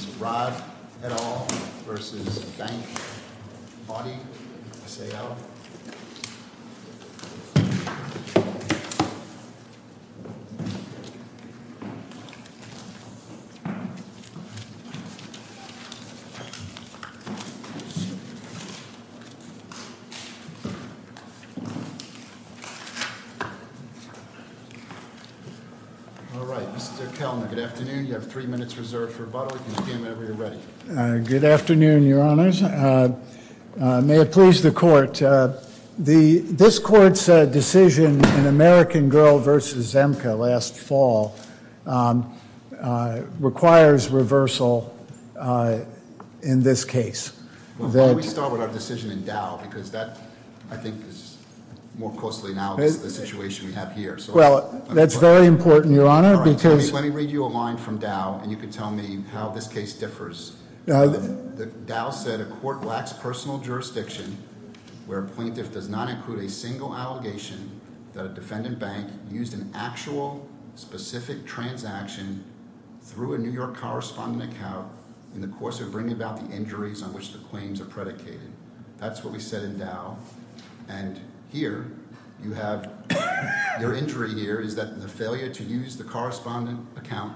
Alright, Mr. Kellner, good afternoon, you have three minutes reserved for rebuttal. Good afternoon, your honors. May it please the court, this court's decision in American Girl v. Zemca last fall requires reversal in this case. Why don't we start with our decision in Dow because that, I think, is more closely analogous to the situation we have here. Well, that's very important, your honor, because Let me read you a line from Dow and you can tell me how this case differs. Dow said a court lacks personal jurisdiction where a plaintiff does not include a single allegation that a defendant bank used an actual, specific transaction through a New York correspondent account in the course of bringing about the injuries on which the claims are predicated. That's what we said in Dow and here you have your injury here is that the failure to use the correspondent account,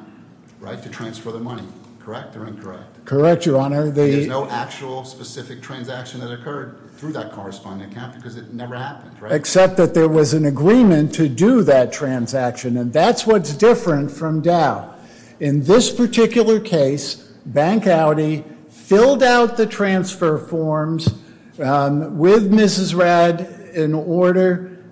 right, to transfer the money, correct or incorrect? Correct, your honor. There's no actual specific transaction that occurred through that correspondent account because it never happened, right? Except that there was an agreement to do that transaction and that's what's different from Dow. In this particular case, Bank Audi filled out the transfer forms with Mrs. Rad in order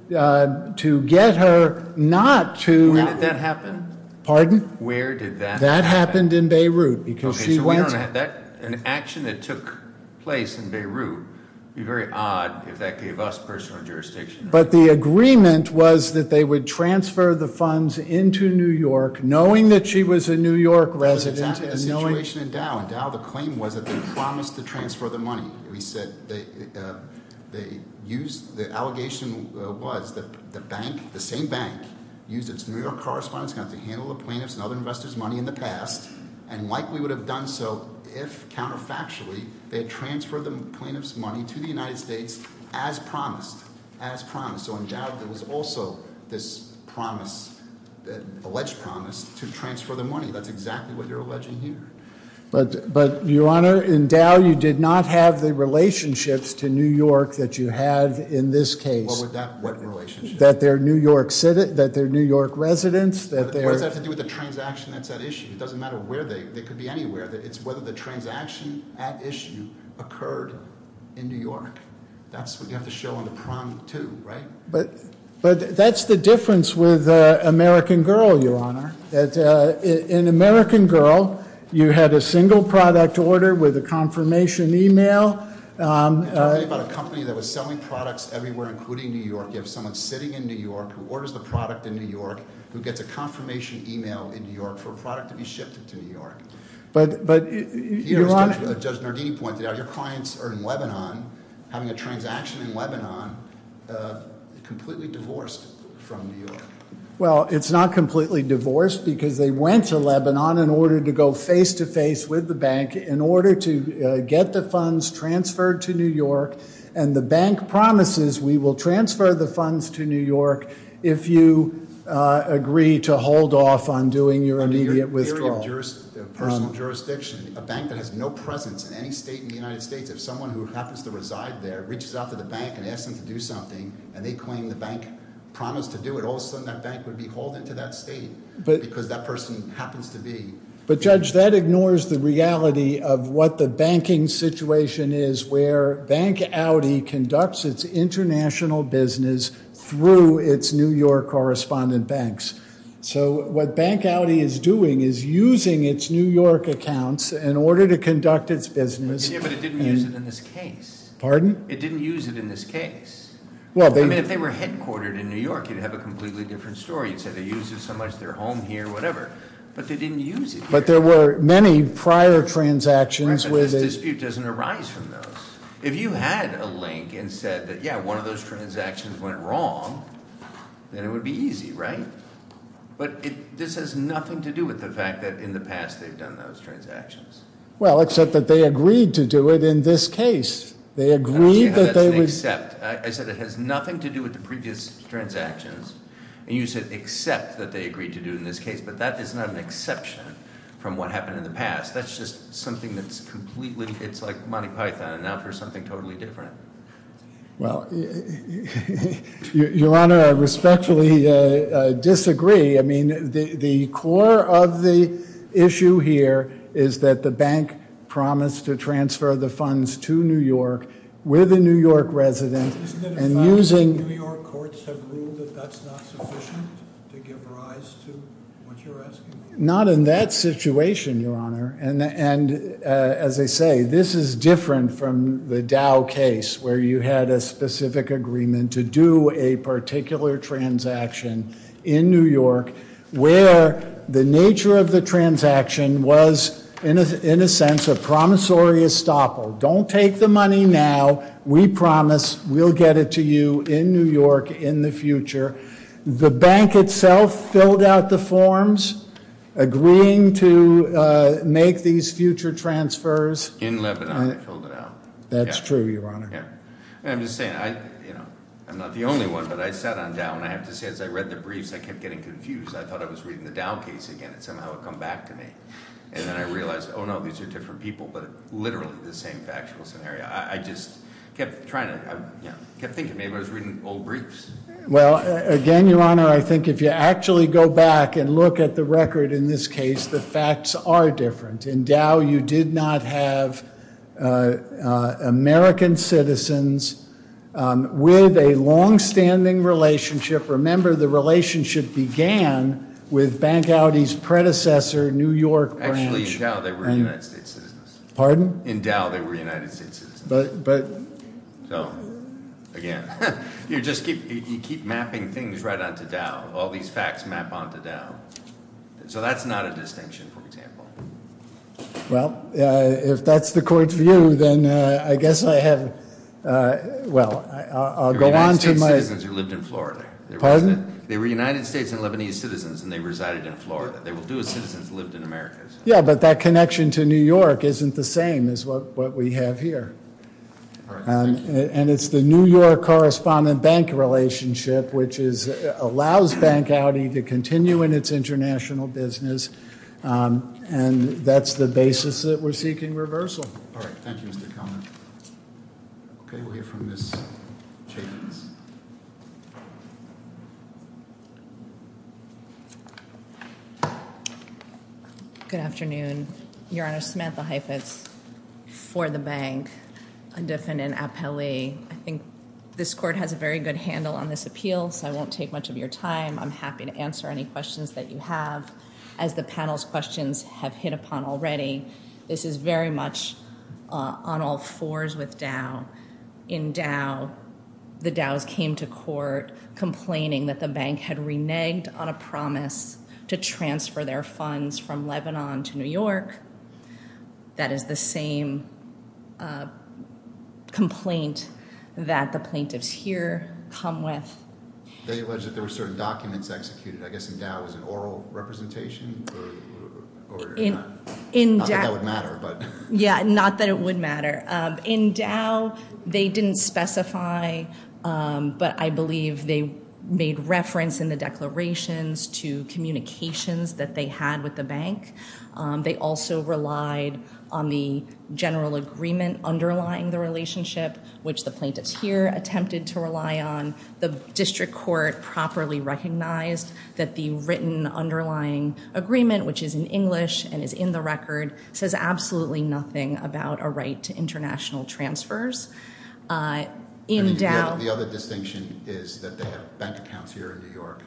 to get her not to When did that happen? Pardon? Where did that happen? That happened in Beirut because she Okay, so we don't have that, an action that took place in Beirut would be very odd if that gave us personal jurisdiction. But the agreement was that they would transfer the funds into New York knowing that she was a New York resident and knowing That's exactly the situation in Dow. In Dow the claim was that they promised to transfer the money. We said they used, the allegation was that the bank, the same bank, used its New York correspondence account to handle the plaintiff's and other investors' money in the past. And likely would have done so if, counterfactually, they had transferred the plaintiff's money to the United States as promised. As promised. So in Dow there was also this promise, alleged promise, to transfer the money. That's exactly what you're alleging here. But Your Honor, in Dow you did not have the relationships to New York that you have in this case. What would that, what relationship? That they're New York residents, that they're What does that have to do with the transaction that's at issue? It doesn't matter where they, they could be anywhere. It's whether the transaction at issue occurred in New York. That's what you have to show on the prom too, right? But that's the difference with American Girl, Your Honor. In American Girl, you had a single product order with a confirmation email. You're talking about a company that was selling products everywhere, including New York. You have someone sitting in New York who orders the product in New York, who gets a confirmation email in New York for a product to be shipped to New York. But, but, Your Honor. Judge Nardini pointed out your clients are in Lebanon, having a transaction in Lebanon, completely divorced from New York. Well, it's not completely divorced because they went to Lebanon in order to go face-to-face with the bank in order to get the funds transferred to New York. And the bank promises we will transfer the funds to New York if you agree to hold off on doing your immediate withdrawal. In your area of personal jurisdiction, a bank that has no presence in any state in the United States, if someone who happens to reside there reaches out to the bank and asks them to do something and they claim the bank promised to do it, all of a sudden that bank would be hauled into that state because that person happens to be- But Judge, that ignores the reality of what the banking situation is where Bank Audi conducts its international business through its New York correspondent banks. So what Bank Audi is doing is using its New York accounts in order to conduct its business- Yeah, but it didn't use it in this case. Pardon? It didn't use it in this case. Well, they- I mean, if they were headquartered in New York, you'd have a completely different story. You'd say they use it so much they're home here, whatever. But they didn't use it here. But there were many prior transactions with- Right, but this dispute doesn't arise from those. If you had a link and said that, yeah, one of those transactions went wrong, then it would be easy, right? But this has nothing to do with the fact that in the past they've done those transactions. Well, except that they agreed to do it in this case. They agreed that they would- I said it has nothing to do with the previous transactions. And you said except that they agreed to do it in this case. But that is not an exception from what happened in the past. That's just something that's completely- It's like Monty Python, and now for something totally different. Well, Your Honor, I respectfully disagree. I mean, the core of the issue here is that the bank promised to transfer the funds to New York with a New York resident. Isn't it a fact that New York courts have ruled that that's not sufficient to give rise to what you're asking? Not in that situation, Your Honor. As I say, this is different from the Dow case where you had a specific agreement to do a particular transaction in New York where the nature of the transaction was, in a sense, a promissory estoppel. Don't take the money now. We promise we'll get it to you in New York in the future. The bank itself filled out the forms agreeing to make these future transfers. In Lebanon, they filled it out. That's true, Your Honor. I'm just saying, I'm not the only one, but I sat on Dow. And I have to say, as I read the briefs, I kept getting confused. I thought I was reading the Dow case again, and somehow it would come back to me. And then I realized, oh, no, these are different people, but literally the same factual scenario. I just kept thinking maybe I was reading old briefs. Well, again, Your Honor, I think if you actually go back and look at the record in this case, the facts are different. In Dow, you did not have American citizens with a longstanding relationship. Remember, the relationship began with Bank Audi's predecessor, New York Branch. Actually, in Dow, they were United States citizens. Pardon? In Dow, they were United States citizens. So, again, you just keep mapping things right onto Dow. All these facts map onto Dow. So that's not a distinction, for example. Well, if that's the court's view, then I guess I have – well, I'll go on to my – They were United States citizens who lived in Florida. Pardon? They were United States and Lebanese citizens, and they resided in Florida. They were Jewish citizens who lived in America. Yeah, but that connection to New York isn't the same as what we have here. And it's the New York correspondent-bank relationship which allows Bank Audi to continue in its international business, and that's the basis that we're seeking reversal. All right. Thank you, Mr. Kelman. Okay, we'll hear from Ms. Jacobs. Good afternoon. Your Honor, Samantha Heifetz for the Bank, a definite appellee. I think this court has a very good handle on this appeal, so I won't take much of your time. I'm happy to answer any questions that you have. As the panel's questions have hit upon already, this is very much on all fours with Dow. In Dow, the Dows came to court complaining that the bank had reneged on a promise to transfer their funds from Lebanon to New York. That is the same complaint that the plaintiffs here come with. They alleged that there were certain documents executed. I guess in Dow it was an oral representation? Not that that would matter, but – Yeah, not that it would matter. In Dow, they didn't specify, but I believe they made reference in the declarations to communications that they had with the bank. They also relied on the general agreement underlying the relationship, which the plaintiffs here attempted to rely on. The district court properly recognized that the written underlying agreement, which is in English and is in the record, says absolutely nothing about a right to international transfers. The other distinction is that they have bank accounts here in New York.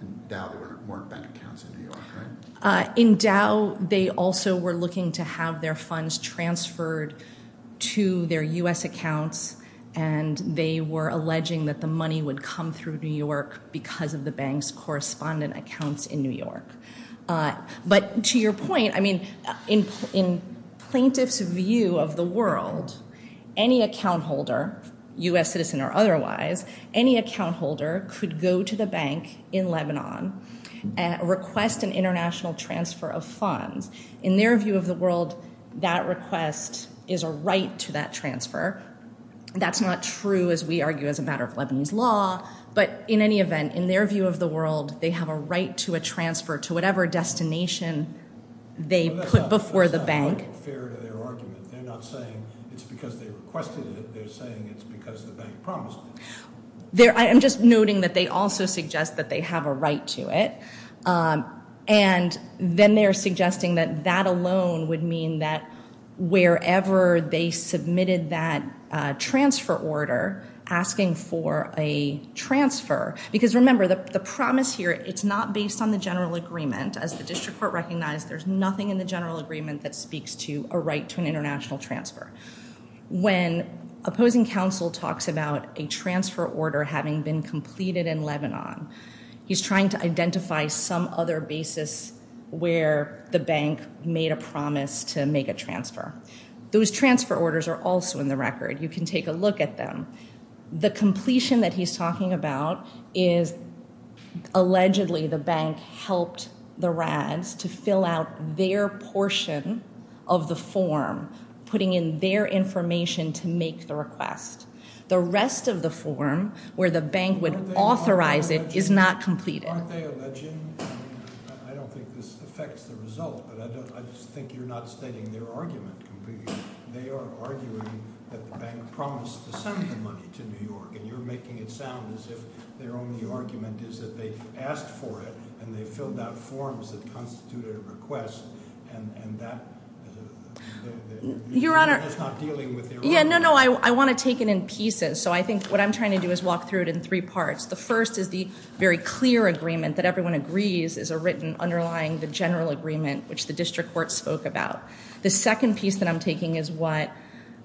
In Dow, there weren't bank accounts in New York, right? In Dow, they also were looking to have their funds transferred to their U.S. accounts, and they were alleging that the money would come through New York because of the bank's correspondent accounts in New York. But to your point, I mean, in plaintiffs' view of the world, any account holder, U.S. citizen or otherwise, any account holder could go to the bank in Lebanon and request an international transfer of funds. In their view of the world, that request is a right to that transfer. That's not true, as we argue, as a matter of Lebanese law. But in any event, in their view of the world, they have a right to a transfer to whatever destination they put before the bank. But that's not fair to their argument. They're not saying it's because they requested it. They're saying it's because the bank promised it. I'm just noting that they also suggest that they have a right to it. And then they're suggesting that that alone would mean that wherever they submitted that transfer order, asking for a transfer. Because remember, the promise here, it's not based on the general agreement. As the district court recognized, there's nothing in the general agreement that speaks to a right to an international transfer. When opposing counsel talks about a transfer order having been completed in Lebanon, he's trying to identify some other basis where the bank made a promise to make a transfer. Those transfer orders are also in the record. You can take a look at them. The completion that he's talking about is allegedly the bank helped the RADs to fill out their portion of the form, putting in their information to make the request. The rest of the form, where the bank would authorize it, is not completed. Aren't they alleging? I don't think this affects the result, but I just think you're not stating their argument completely. They are arguing that the bank promised to send the money to New York, and you're making it sound as if their only argument is that they've asked for it, and they've filled out forms that constitute a request, and that- Your Honor- It's not dealing with their- Yeah, no, no, I want to take it in pieces. So I think what I'm trying to do is walk through it in three parts. The first is the very clear agreement that everyone agrees is a written underlying the general agreement, which the district court spoke about. The second piece that I'm taking is what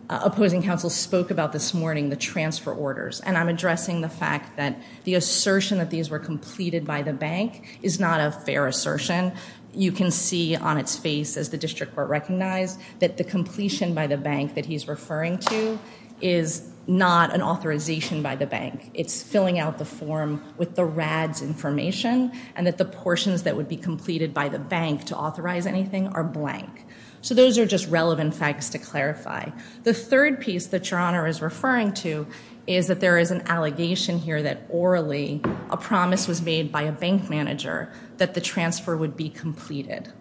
opposing counsel spoke about this morning, the transfer orders. And I'm addressing the fact that the assertion that these were completed by the bank is not a fair assertion. You can see on its face, as the district court recognized, that the completion by the bank that he's referring to is not an authorization by the bank. It's filling out the form with the RAD's information, and that the portions that would be completed by the bank to authorize anything are blank. So those are just relevant facts to clarify. The third piece that Your Honor is referring to is that there is an allegation here that orally a promise was made by a bank manager that the transfer would be completed.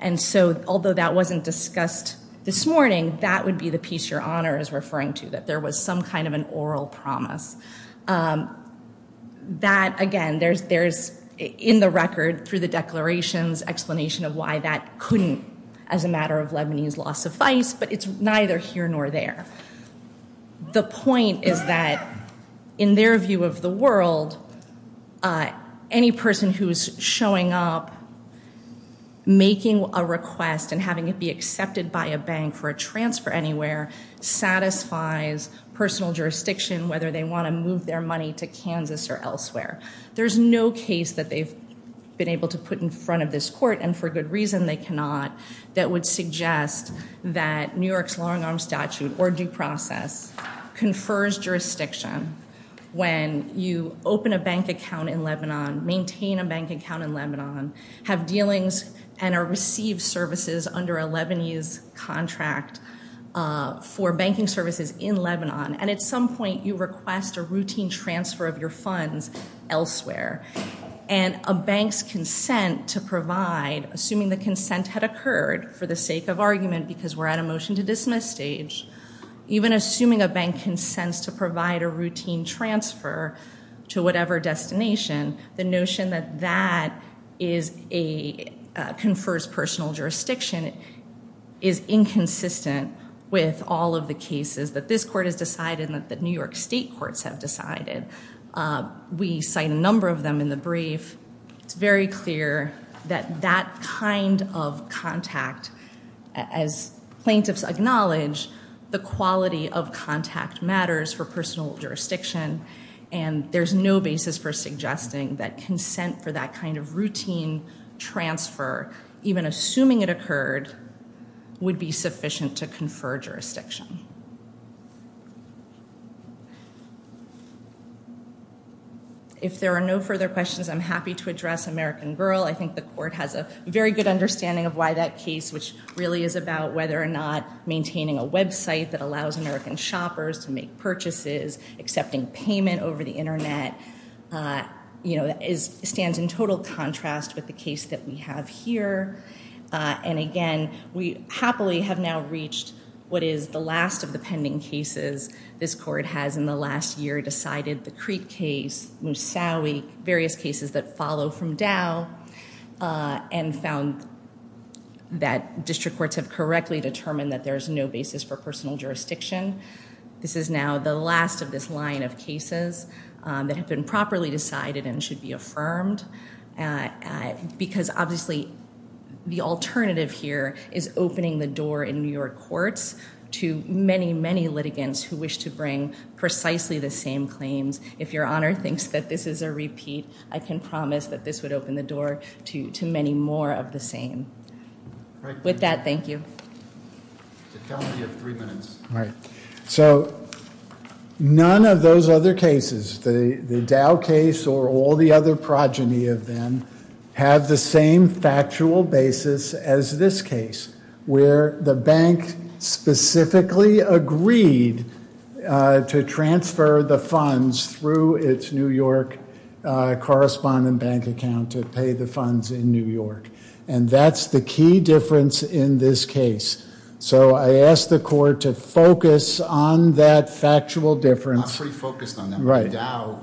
And so although that wasn't discussed this morning, that would be the piece Your Honor is referring to, that there was some kind of an oral promise. That, again, there's in the record through the declarations explanation of why that couldn't, as a matter of Lebanese law, suffice, but it's neither here nor there. The point is that, in their view of the world, any person who's showing up, making a request, and having it be accepted by a bank for a transfer anywhere, satisfies personal jurisdiction, whether they want to move their money to Kansas or elsewhere. There's no case that they've been able to put in front of this court, and for good reason they cannot, that would suggest that New York's long-arm statute or due process confers jurisdiction when you open a bank account in Lebanon, maintain a bank account in Lebanon, have dealings, and are received services under a Lebanese contract for banking services in Lebanon. And at some point you request a routine transfer of your funds elsewhere, and a bank's consent to provide, assuming the consent had occurred for the sake of argument because we're at a motion to dismiss stage, even assuming a bank consents to provide a routine transfer to whatever destination, the notion that that confers personal jurisdiction is inconsistent with all of the cases that this court has decided and that the New York state courts have decided. We cite a number of them in the brief. It's very clear that that kind of contact, as plaintiffs acknowledge, the quality of contact matters for personal jurisdiction, and there's no basis for suggesting that consent for that kind of routine transfer, even assuming it occurred, would be sufficient to confer jurisdiction. If there are no further questions, I'm happy to address American Girl. I think the court has a very good understanding of why that case, which really is about whether or not maintaining a website that allows American shoppers to make purchases, accepting payment over the Internet, stands in total contrast with the case that we have here. And again, we happily have now reached what is the last of the pending cases this court has in the last year decided, the Crete case, Moussaoui, various cases that follow from Dow, and found that district courts have correctly determined that there's no basis for personal jurisdiction. This is now the last of this line of cases that have been properly decided and should be affirmed, because obviously the alternative here is opening the door in New York courts to many, many litigants who wish to bring precisely the same claims. If Your Honor thinks that this is a repeat, I can promise that this would open the door to many more of the same. With that, thank you. So none of those other cases, the Dow case or all the other progeny of them, have the same factual basis as this case, where the bank specifically agreed to transfer the funds through its New York correspondent bank account to pay the funds in New York. And that's the key difference in this case. So I ask the court to focus on that factual difference. In Dow,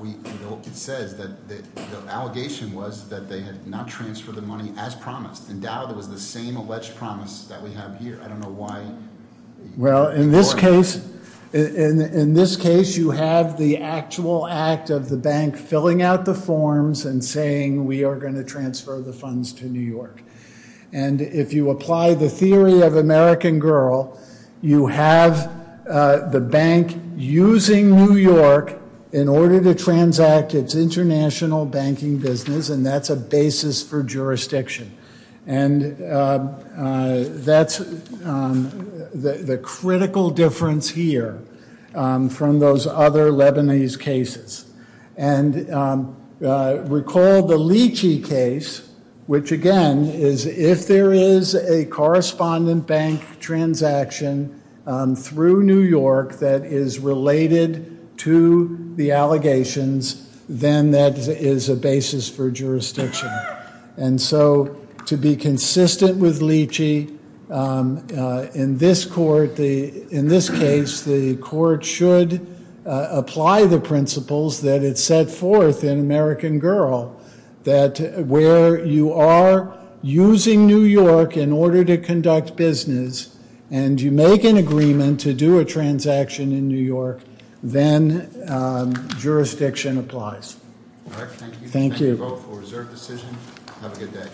it says that the allegation was that they had not transferred the money as promised. In Dow, there was the same alleged promise that we have here. I don't know why. Well, in this case, you have the actual act of the bank filling out the forms and saying, we are going to transfer the funds to New York. And if you apply the theory of American Girl, you have the bank using New York in order to transact its international banking business, and that's a basis for jurisdiction. And that's the critical difference here from those other Lebanese cases. And recall the Lychee case, which, again, is if there is a correspondent bank transaction through New York that is related to the allegations, then that is a basis for jurisdiction. And so to be consistent with Lychee, in this case, the court should apply the principles that it set forth in American Girl, that where you are using New York in order to conduct business and you make an agreement to do a transaction in New York, then jurisdiction applies. Thank you. I'll take a vote for reserve decision. Have a good day.